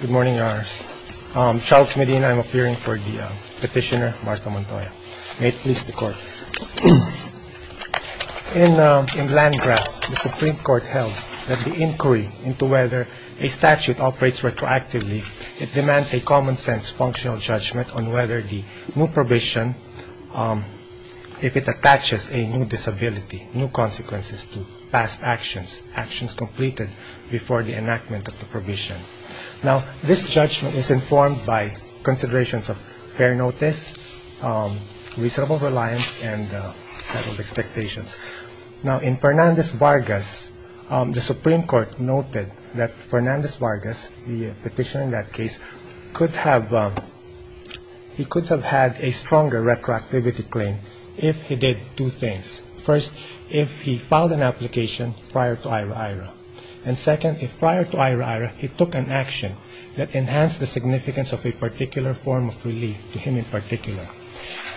Good morning, Your Honors. Charles Medina, I'm appearing for the Petitioner Martha Montoya. May it please the Court. In Landgraf, the Supreme Court held that the inquiry into whether a statute operates retroactively, it demands a common-sense functional judgment on whether the new provision, if it attaches a new disability, new consequences to past actions, actions completed before the enactment of the provision. Now, this judgment is informed by considerations of fair notice, reasonable reliance, and settled expectations. Now, in Fernandez-Vargas, the Supreme Court noted that Fernandez-Vargas, the petitioner in that case, could have had a stronger retroactivity claim if he did two things. First, if he filed an application prior to IHRA-IHRA. And second, if prior to IHRA-IHRA, he took an action that enhanced the significance of a particular form of relief to him in particular.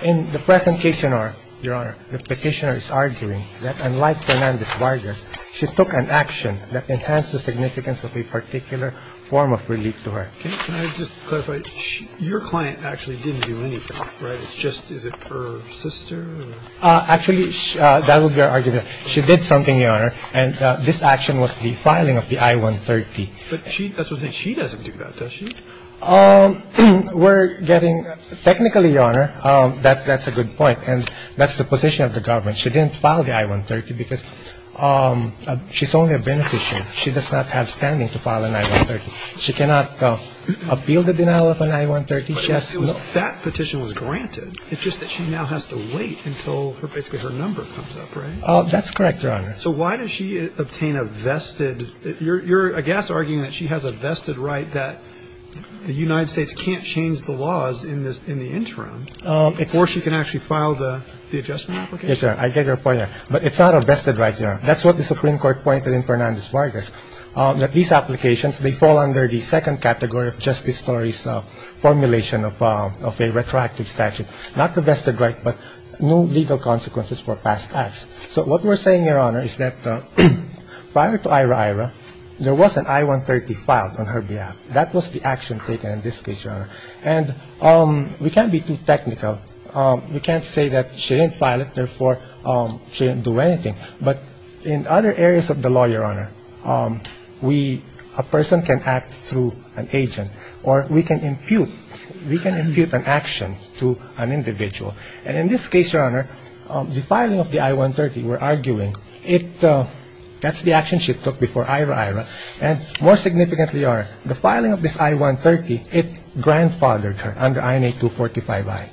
In the present case, Your Honor, the petitioner is arguing that unlike Fernandez-Vargas, she took an action that enhanced the significance of a particular form of relief to her. Can I just clarify? Your client actually didn't do anything, right? It's just her sister? Actually, that would be our argument. She did something, Your Honor, and this action was the filing of the I-130. But she doesn't do that, does she? We're getting – technically, Your Honor, that's a good point. And that's the position of the government. She didn't file the I-130 because she's only a beneficiary. She does not have standing to file an I-130. She cannot appeal the denial of an I-130. She has no – But that petition was granted. It's just that she now has to wait until basically her number comes up, right? That's correct, Your Honor. So why does she obtain a vested – you're, I guess, arguing that she has a vested right that the United States can't change the laws in the interim before she can actually file the adjustment application? Yes, Your Honor, I get your point. But it's not a vested right, Your Honor. That's what the Supreme Court pointed in Fernandez-Vargas, that these applications, they fall under the second category of justice stories formulation of a retroactive statute, not the vested right, but no legal consequences for past acts. So what we're saying, Your Honor, is that prior to Ira-Ira, there was an I-130 filed on her behalf. That was the action taken in this case, Your Honor. And we can't be too technical. We can't say that she didn't file it, therefore she didn't do anything. But in other areas of the law, Your Honor, we – a person can act through an agent, or we can impute – we can impute an action to an individual. And in this case, Your Honor, the filing of the I-130, we're arguing, it – that's the action she took before Ira-Ira. And more significantly, Your Honor, the filing of this I-130, it grandfathered her under INA 245i.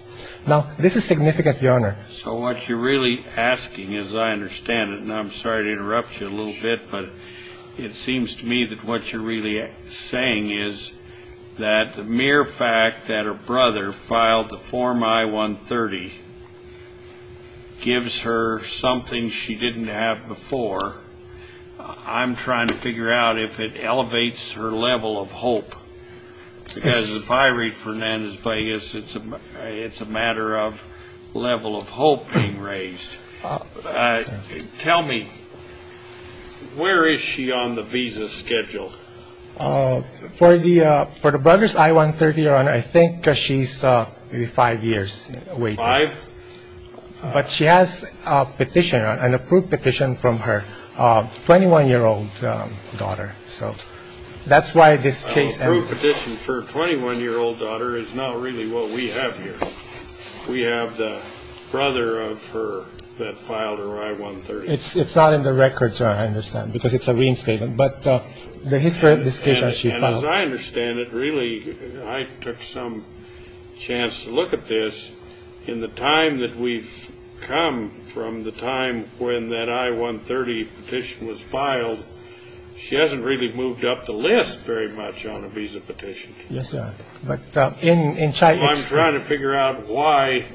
Now, this is significant, Your Honor. So what you're really asking, as I understand it, and I'm sorry to interrupt you a little bit, but it seems to me that what you're really saying is that the mere fact that her brother filed the form I-130 gives her something she didn't have before. I'm trying to figure out if it elevates her level of hope. Because if I read Fernandez-Vegas, it's a matter of level of hope being raised. Tell me, where is she on the visa schedule? For the brother's I-130, Your Honor, I think she's maybe five years. Five? But she has a petition, an approved petition from her 21-year-old daughter. So that's why this case ended. An approved petition for a 21-year-old daughter is not really what we have here. We have the brother of her that filed her I-130. It's not in the record, sir, I understand, because it's a reinstatement. But the history of this case is she filed it. And as I understand it, really, I took some chance to look at this. In the time that we've come from the time when that I-130 petition was filed, she hasn't really moved up the list very much on a visa petition. Yes, sir. I'm trying to figure out why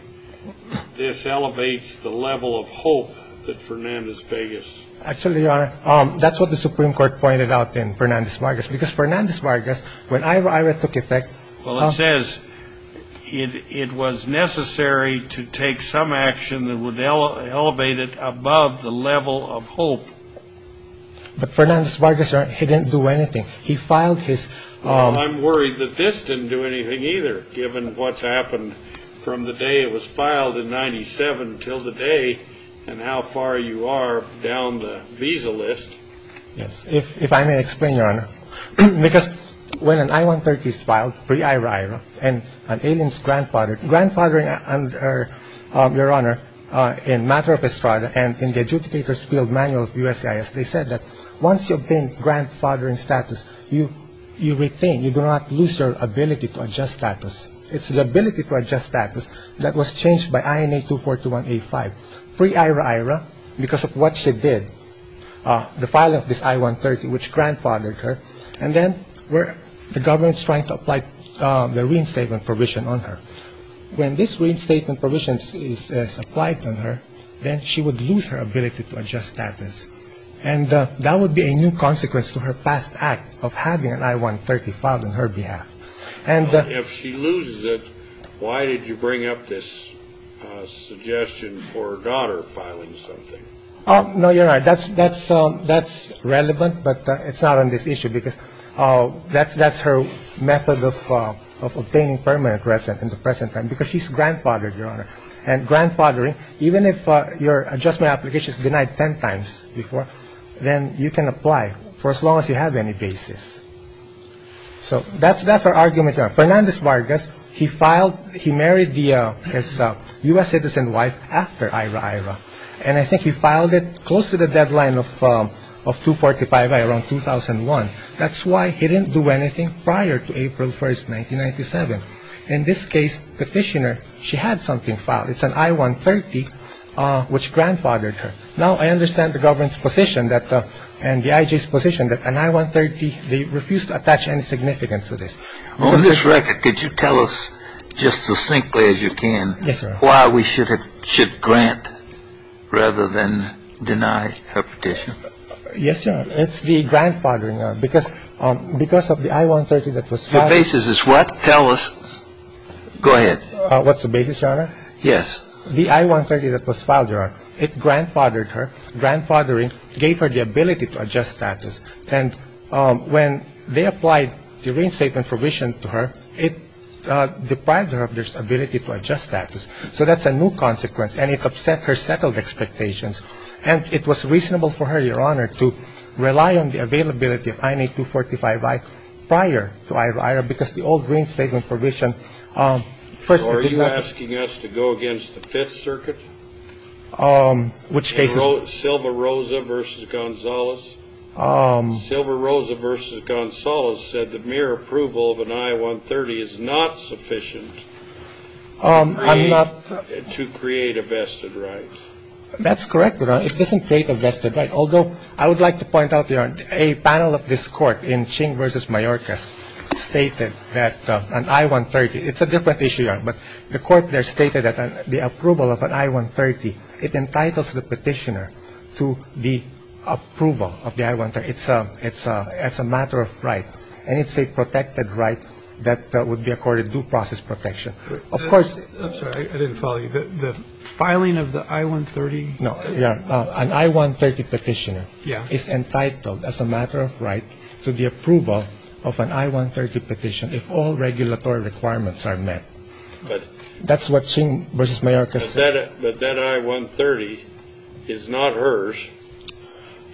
this elevates the level of hope that Fernandez-Vegas. Actually, Your Honor, that's what the Supreme Court pointed out in Fernandez-Vegas. Because Fernandez-Vegas, when IRA took effect. Well, it says it was necessary to take some action that would elevate it above the level of hope. But Fernandez-Vegas, Your Honor, he didn't do anything. He filed his. Well, I'm worried that this didn't do anything either, given what's happened from the day it was filed in 1997 until today and how far you are down the visa list. Yes. If I may explain, Your Honor. Because when an I-130 is filed, pre-IRA, and an alien's grandfathered. Your Honor, in Matter of Estrada and in the adjudicator's field manual of USCIS, they said that once you obtain grandfathering status, you retain. You do not lose your ability to adjust status. It's the ability to adjust status that was changed by INA 2421A5. Pre-IRA-IRA, because of what she did, the filing of this I-130, which grandfathered her, and then the government's trying to apply the reinstatement provision on her. When this reinstatement provision is applied to her, then she would lose her ability to adjust status. And that would be a new consequence to her past act of having an I-130 filed on her behalf. If she loses it, why did you bring up this suggestion for her daughter filing something? No, Your Honor, that's relevant, but it's not on this issue because that's her method of obtaining permanent residence in the present time because she's grandfathered, Your Honor. And grandfathering, even if your adjustment application is denied ten times before, then you can apply for as long as you have any basis. So that's our argument. Fernandez Vargas, he married his U.S. citizen wife after I-RA-IRA, and I think he filed it close to the deadline of 245-I, around 2001. That's why he didn't do anything prior to April 1, 1997. In this case, petitioner, she had something filed. It's an I-130, which grandfathered her. Now, I understand the government's position and the IJ's position that an I-130, they refused to attach any significance to this. On this record, could you tell us just as succinctly as you can why we should grant rather than deny her petition? Yes, Your Honor. It's the grandfathering, Your Honor, because of the I-130 that was filed. The basis is what? Tell us. Go ahead. What's the basis, Your Honor? Yes. The I-130 that was filed, Your Honor, it grandfathered her. Grandfathering gave her the ability to adjust status. And when they applied the reinstatement provision to her, it deprived her of this ability to adjust status. So that's a new consequence. And it upset her settled expectations. And it was reasonable for her, Your Honor, to rely on the availability of INA 245-I prior to I-IRA, because the old reinstatement provision. So are you asking us to go against the Fifth Circuit? Which cases? And Silva-Rosa v. Gonzales? Silva-Rosa v. Gonzales said that mere approval of an I-130 is not sufficient. I'm not. To create a vested right. That's correct, Your Honor. It doesn't create a vested right. Although I would like to point out, Your Honor, a panel of this Court in Ching v. Mayorkas stated that an I-130, it's a different issue, Your Honor. But the Court there stated that the approval of an I-130, it entitles the Petitioner to the approval of the I-130. It's a matter of right. And it's a protected right that would be accorded due process protection. Of course. I'm sorry. I didn't follow you. The filing of the I-130? No. An I-130 Petitioner is entitled as a matter of right to the approval of an I-130 Petition if all regulatory requirements are met. That's what Ching v. Mayorkas said. But that I-130 is not hers.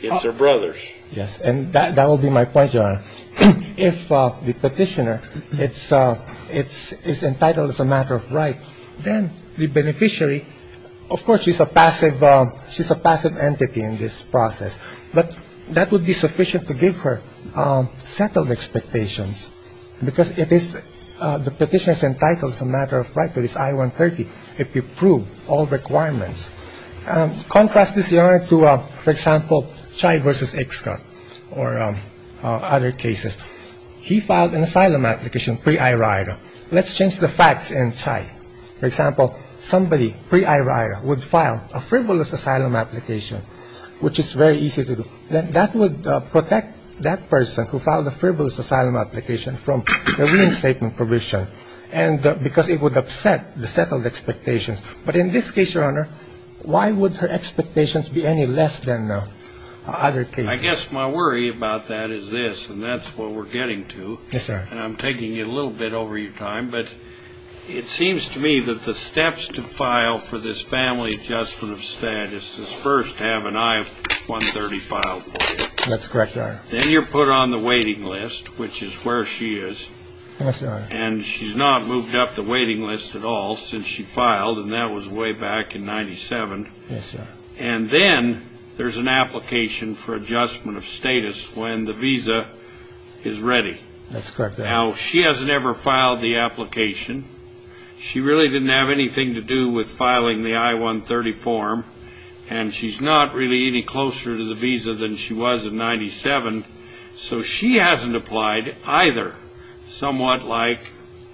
It's her brother's. Yes. And that will be my point, Your Honor. If the Petitioner is entitled as a matter of right, then the beneficiary, of course, she's a passive entity in this process. But that would be sufficient to give her settled expectations because it is the Petitioner is entitled as a matter of right to this I-130 if you prove all requirements. Contrast this, Your Honor, to, for example, Chai v. Iksak or other cases. He filed an asylum application pre-IRITA. Let's change the facts in Chai. For example, somebody pre-IRITA would file a frivolous asylum application, which is very easy to do. That would protect that person who filed a frivolous asylum application from a reinstatement provision because it would upset the settled expectations. But in this case, Your Honor, why would her expectations be any less than other cases? I guess my worry about that is this, and that's what we're getting to. Yes, sir. And I'm taking you a little bit over your time. But it seems to me that the steps to file for this family adjustment of status is first have an I-130 filed for you. That's correct, Your Honor. Then you're put on the waiting list, which is where she is. Yes, Your Honor. And she's not moved up the waiting list at all since she filed, and that was way back in 97. Yes, sir. And then there's an application for adjustment of status when the visa is ready. That's correct, Your Honor. Now, she hasn't ever filed the application. She really didn't have anything to do with filing the I-130 form, and she's not really any closer to the visa than she was in 97. So she hasn't applied either, somewhat like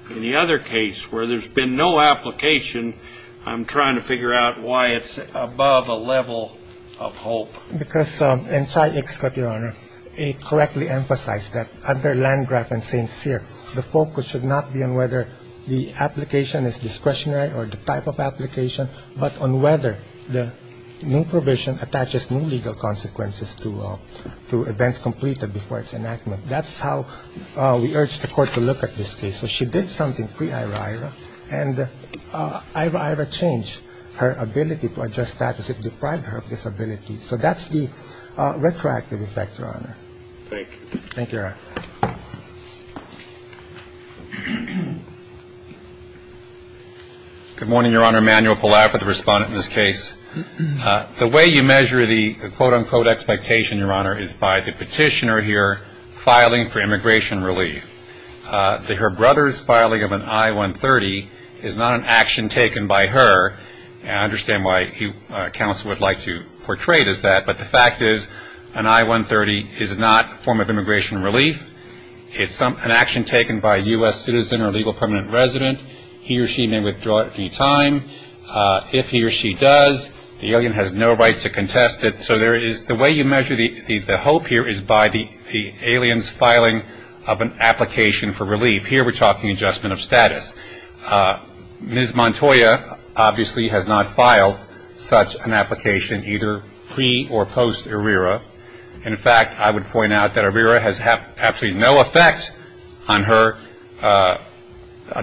in the other case where there's been no application. I'm trying to figure out why it's above a level of hope. Because in Chi X, Your Honor, it correctly emphasized that under Landgraf and St. Cyr, the focus should not be on whether the application is discretionary or the type of application, but on whether the new provision attaches new legal consequences to events completed before its enactment. That's how we urged the Court to look at this case. So she did something pre-Ira-Ira, and Ira-Ira changed her ability to adjust status. It deprived her of this ability. So that's the retroactive effect, Your Honor. Thank you. Thank you, Your Honor. Good morning, Your Honor. Manuel Palaf with the respondent in this case. The way you measure the quote-unquote expectation, Your Honor, is by the petitioner here filing for immigration relief. Her brother's filing of an I-130 is not an action taken by her. I understand why counsel would like to portray it as that, but the fact is an I-130 is not a form of immigration relief. It's an action taken by a U.S. citizen or legal permanent resident. He or she may withdraw it at any time. If he or she does, the alien has no right to contest it. So the way you measure the hope here is by the alien's filing of an application for relief. Here we're talking adjustment of status. Ms. Montoya obviously has not filed such an application either pre- or post-Ira-Ira. In fact, I would point out that Irira has absolutely no effect on her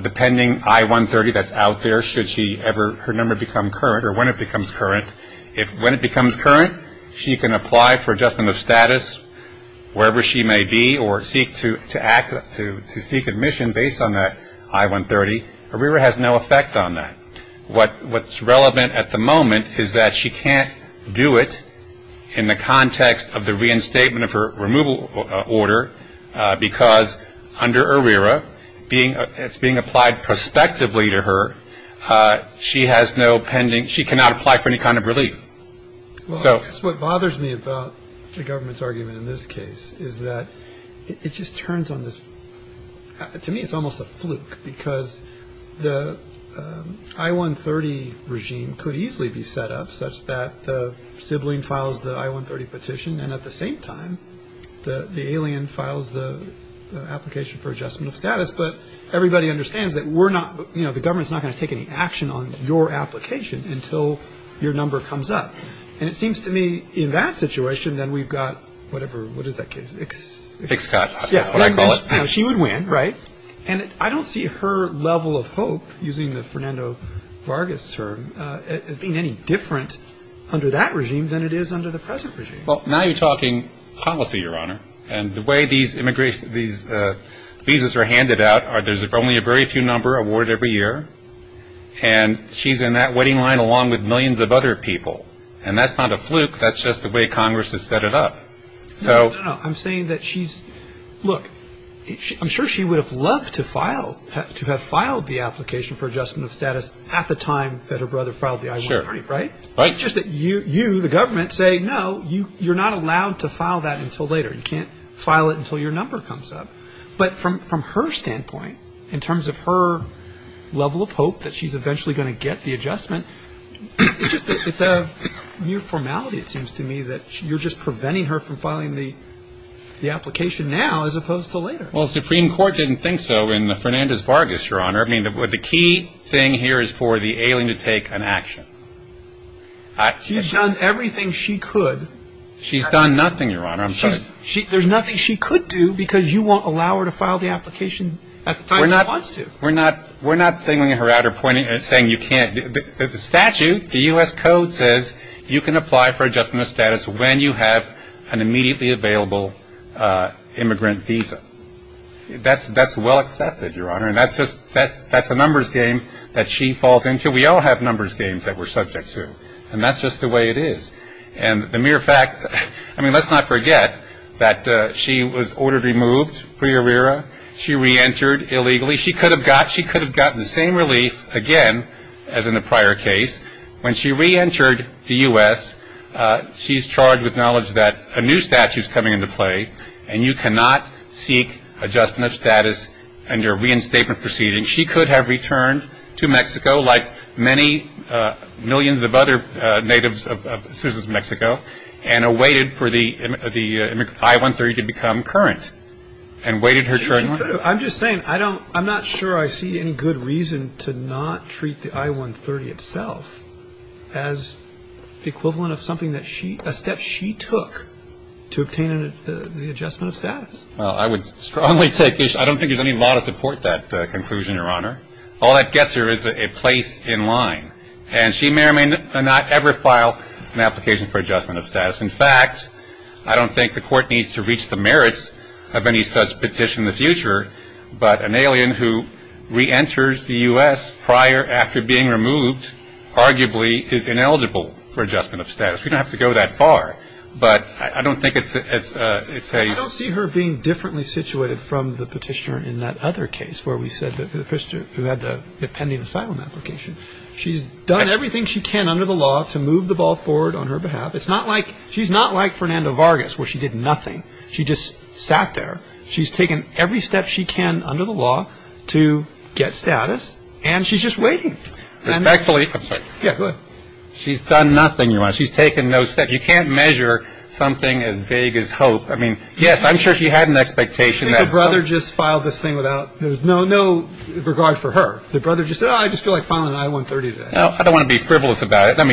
depending I-130 that's out there, should her number become current or when it becomes current. When it becomes current, she can apply for adjustment of status wherever she may be or seek admission based on that I-130. Irira has no effect on that. What's relevant at the moment is that she can't do it in the context of the reinstatement of her removal order because under Irira it's being applied prospectively to her. She has no pending – she cannot apply for any kind of relief. That's what bothers me about the government's argument in this case is that it just turns on this – the I-130 regime could easily be set up such that the sibling files the I-130 petition and at the same time the alien files the application for adjustment of status, but everybody understands that we're not – the government's not going to take any action on your application until your number comes up. And it seems to me in that situation then we've got whatever – what is that case? Xcott. That's what I call it. She would win, right? And I don't see her level of hope, using the Fernando Vargas term, as being any different under that regime than it is under the present regime. Well, now you're talking policy, Your Honor, and the way these visas are handed out, there's only a very few number awarded every year, and she's in that waiting line along with millions of other people. And that's not a fluke. That's just the way Congress has set it up. No, no, no. I'm saying that she's – look, I'm sure she would have loved to file – to have filed the application for adjustment of status at the time that her brother filed the I-130, right? Right. It's just that you, the government, say no, you're not allowed to file that until later. You can't file it until your number comes up. But from her standpoint, in terms of her level of hope that she's eventually going to get the adjustment, it's just that it's a mere formality, it seems to me, that you're just preventing her from filing the application now as opposed to later. Well, the Supreme Court didn't think so in Fernandez-Vargas, Your Honor. I mean, the key thing here is for the alien to take an action. She's done everything she could. She's done nothing, Your Honor. I'm sorry. There's nothing she could do because you won't allow her to file the application at the time she wants to. We're not singling her out or pointing – saying you can't. The statute, the U.S. Code, says you can apply for adjustment of status when you have an immediately available immigrant visa. That's well accepted, Your Honor, and that's just – that's a numbers game that she falls into. We all have numbers games that we're subject to, and that's just the way it is. And the mere fact – I mean, let's not forget that she was ordered removed pre-arrera. She reentered illegally. She could have gotten the same relief again as in the prior case. When she reentered the U.S., she's charged with knowledge that a new statute is coming into play, and you cannot seek adjustment of status under a reinstatement proceeding. She could have returned to Mexico like many millions of other citizens of Mexico and awaited for the I-130 to become current and waited her turn. I'm just saying I don't – I'm not sure I see any good reason to not treat the I-130 itself as the equivalent of something that she – a step she took to obtain the adjustment of status. Well, I would strongly take issue – I don't think there's any law to support that conclusion, Your Honor. All that gets her is a place in line, and she may or may not ever file an application for adjustment of status. In fact, I don't think the court needs to reach the merits of any such petition in the future, but an alien who reenters the U.S. prior after being removed arguably is ineligible for adjustment of status. We don't have to go that far, but I don't think it's a – I don't see her being differently situated from the petitioner in that other case where we said the – who had the pending asylum application. She's done everything she can under the law to move the ball forward on her behalf. It's not like – she's not like Fernando Vargas where she did nothing. She just sat there. She's taken every step she can under the law to get status, and she's just waiting. Respectfully – I'm sorry. Yeah, go ahead. She's done nothing, Your Honor. She's taken no steps. You can't measure something as vague as hope. I mean, yes, I'm sure she had an expectation that – I think the brother just filed this thing without – there's no regard for her. The brother just said, oh, I just feel like filing an I-130 today. No, I don't want to be frivolous about it. But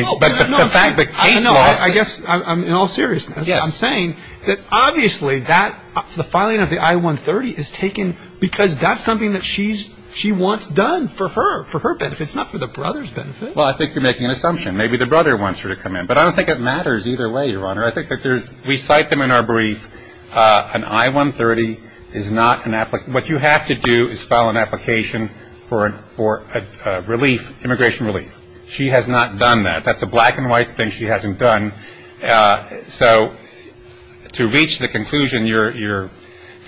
the fact that case laws – No, I guess in all seriousness, I'm saying that obviously that – the filing of the I-130 is taken because that's something that she wants done for her, for her benefit. It's not for the brother's benefit. Well, I think you're making an assumption. Maybe the brother wants her to come in. But I don't think it matters either way, Your Honor. I think that there's – we cite them in our brief. An I-130 is not an – what you have to do is file an application for a relief, immigration relief. She has not done that. That's a black and white thing she hasn't done. So to reach the conclusion you're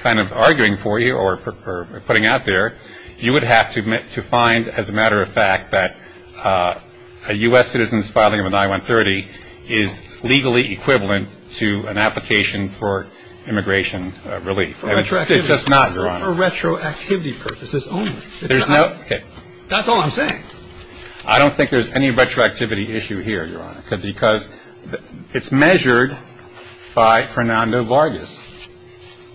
kind of arguing for you or putting out there, you would have to find, as a matter of fact, that a U.S. citizen's filing of an I-130 is legally equivalent to an application for immigration relief. It's just not, Your Honor. For retroactivity purposes only. There's no – okay. That's all I'm saying. I don't think there's any retroactivity issue here, Your Honor, because it's measured by Fernando Vargas.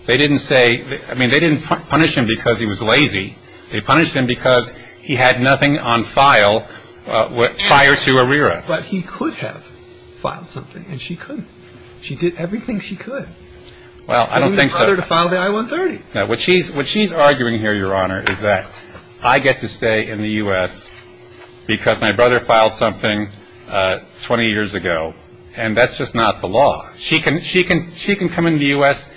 They didn't say – I mean, they didn't punish him because he was lazy. They punished him because he had nothing on file prior to ARERA. But he could have filed something, and she couldn't. She did everything she could. Well, I don't think so. And we want her to file the I-130. No, what she's arguing here, Your Honor, is that I get to stay in the U.S. because my brother filed something 20 years ago, and that's just not the law. She can come in the U.S.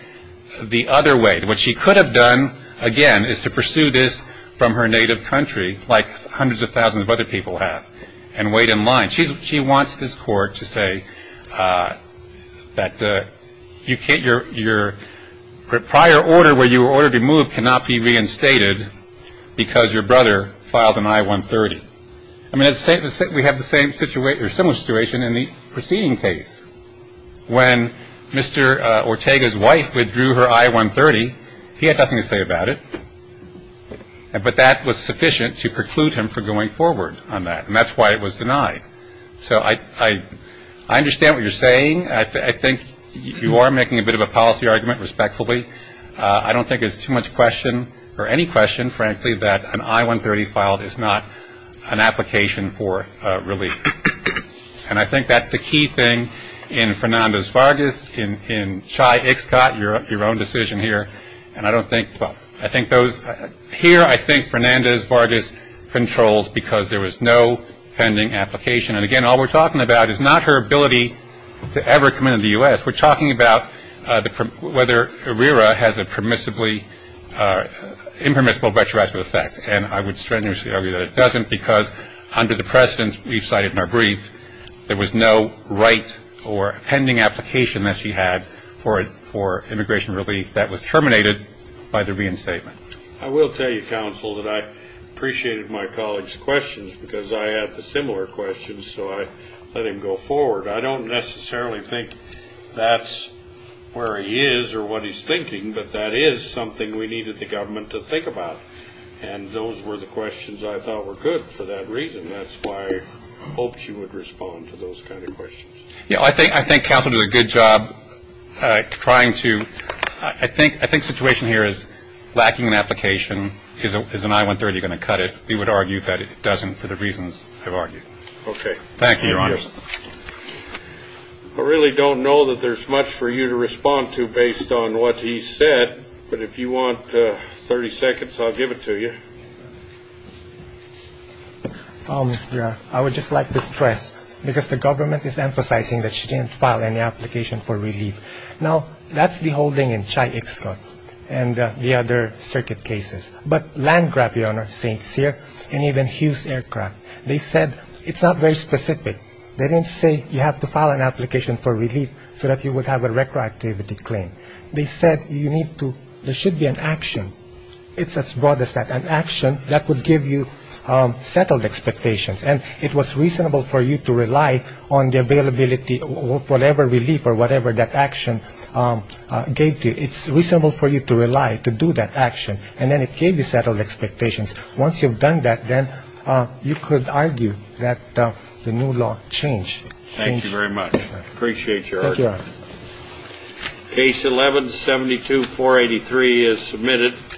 the other way. What she could have done, again, is to pursue this from her native country, like hundreds of thousands of other people have, and wait in line. She wants this court to say that your prior order, where you were ordered to move, cannot be reinstated because your brother filed an I-130. I mean, we have a similar situation in the preceding case. When Mr. Ortega's wife withdrew her I-130, he had nothing to say about it, but that was sufficient to preclude him from going forward on that, and that's why it was denied. So I understand what you're saying. I think you are making a bit of a policy argument, respectfully. I don't think it's too much question, or any question, frankly, that an I-130 filed is not an application for relief. And I think that's the key thing in Fernandez-Vargas, in Chai Ixcot, your own decision here. And I don't think, well, I think those, here I think Fernandez-Vargas controls because there was no pending application. And, again, all we're talking about is not her ability to ever come into the U.S. We're talking about whether IRERA has a permissibly, impermissible retroactive effect, and I would strenuously argue that it doesn't because under the precedents we've cited in our brief, there was no right or pending application that she had for immigration relief that was terminated by the reinstatement. I will tell you, counsel, that I appreciated my colleague's questions because I had the similar questions, so I let him go forward. I don't necessarily think that's where he is or what he's thinking, but that is something we needed the government to think about, and those were the questions I thought were good for that reason. And that's why I hoped you would respond to those kind of questions. Yeah, I think counsel did a good job trying to – I think the situation here is lacking an application is an I-130 going to cut it. We would argue that it doesn't for the reasons I've argued. Okay. Thank you, Your Honor. I really don't know that there's much for you to respond to based on what he said, but if you want 30 seconds, I'll give it to you. Yes, sir. I would just like to stress, because the government is emphasizing that she didn't file any application for relief. Now, that's the holding in Chai Iksot and the other circuit cases, but Landcraft, Your Honor, St. Cyr, and even Hughes Aircraft, they said it's not very specific. They didn't say you have to file an application for relief so that you would have a retroactivity claim. They said you need to – there should be an action. It's as broad as that. An action that would give you settled expectations, and it was reasonable for you to rely on the availability of whatever relief or whatever that action gave to you. It's reasonable for you to rely, to do that action, and then it gave you settled expectations. Once you've done that, then you could argue that the new law changed. Appreciate your argument. Thank you, Your Honor. Case 11-72483 is submitted.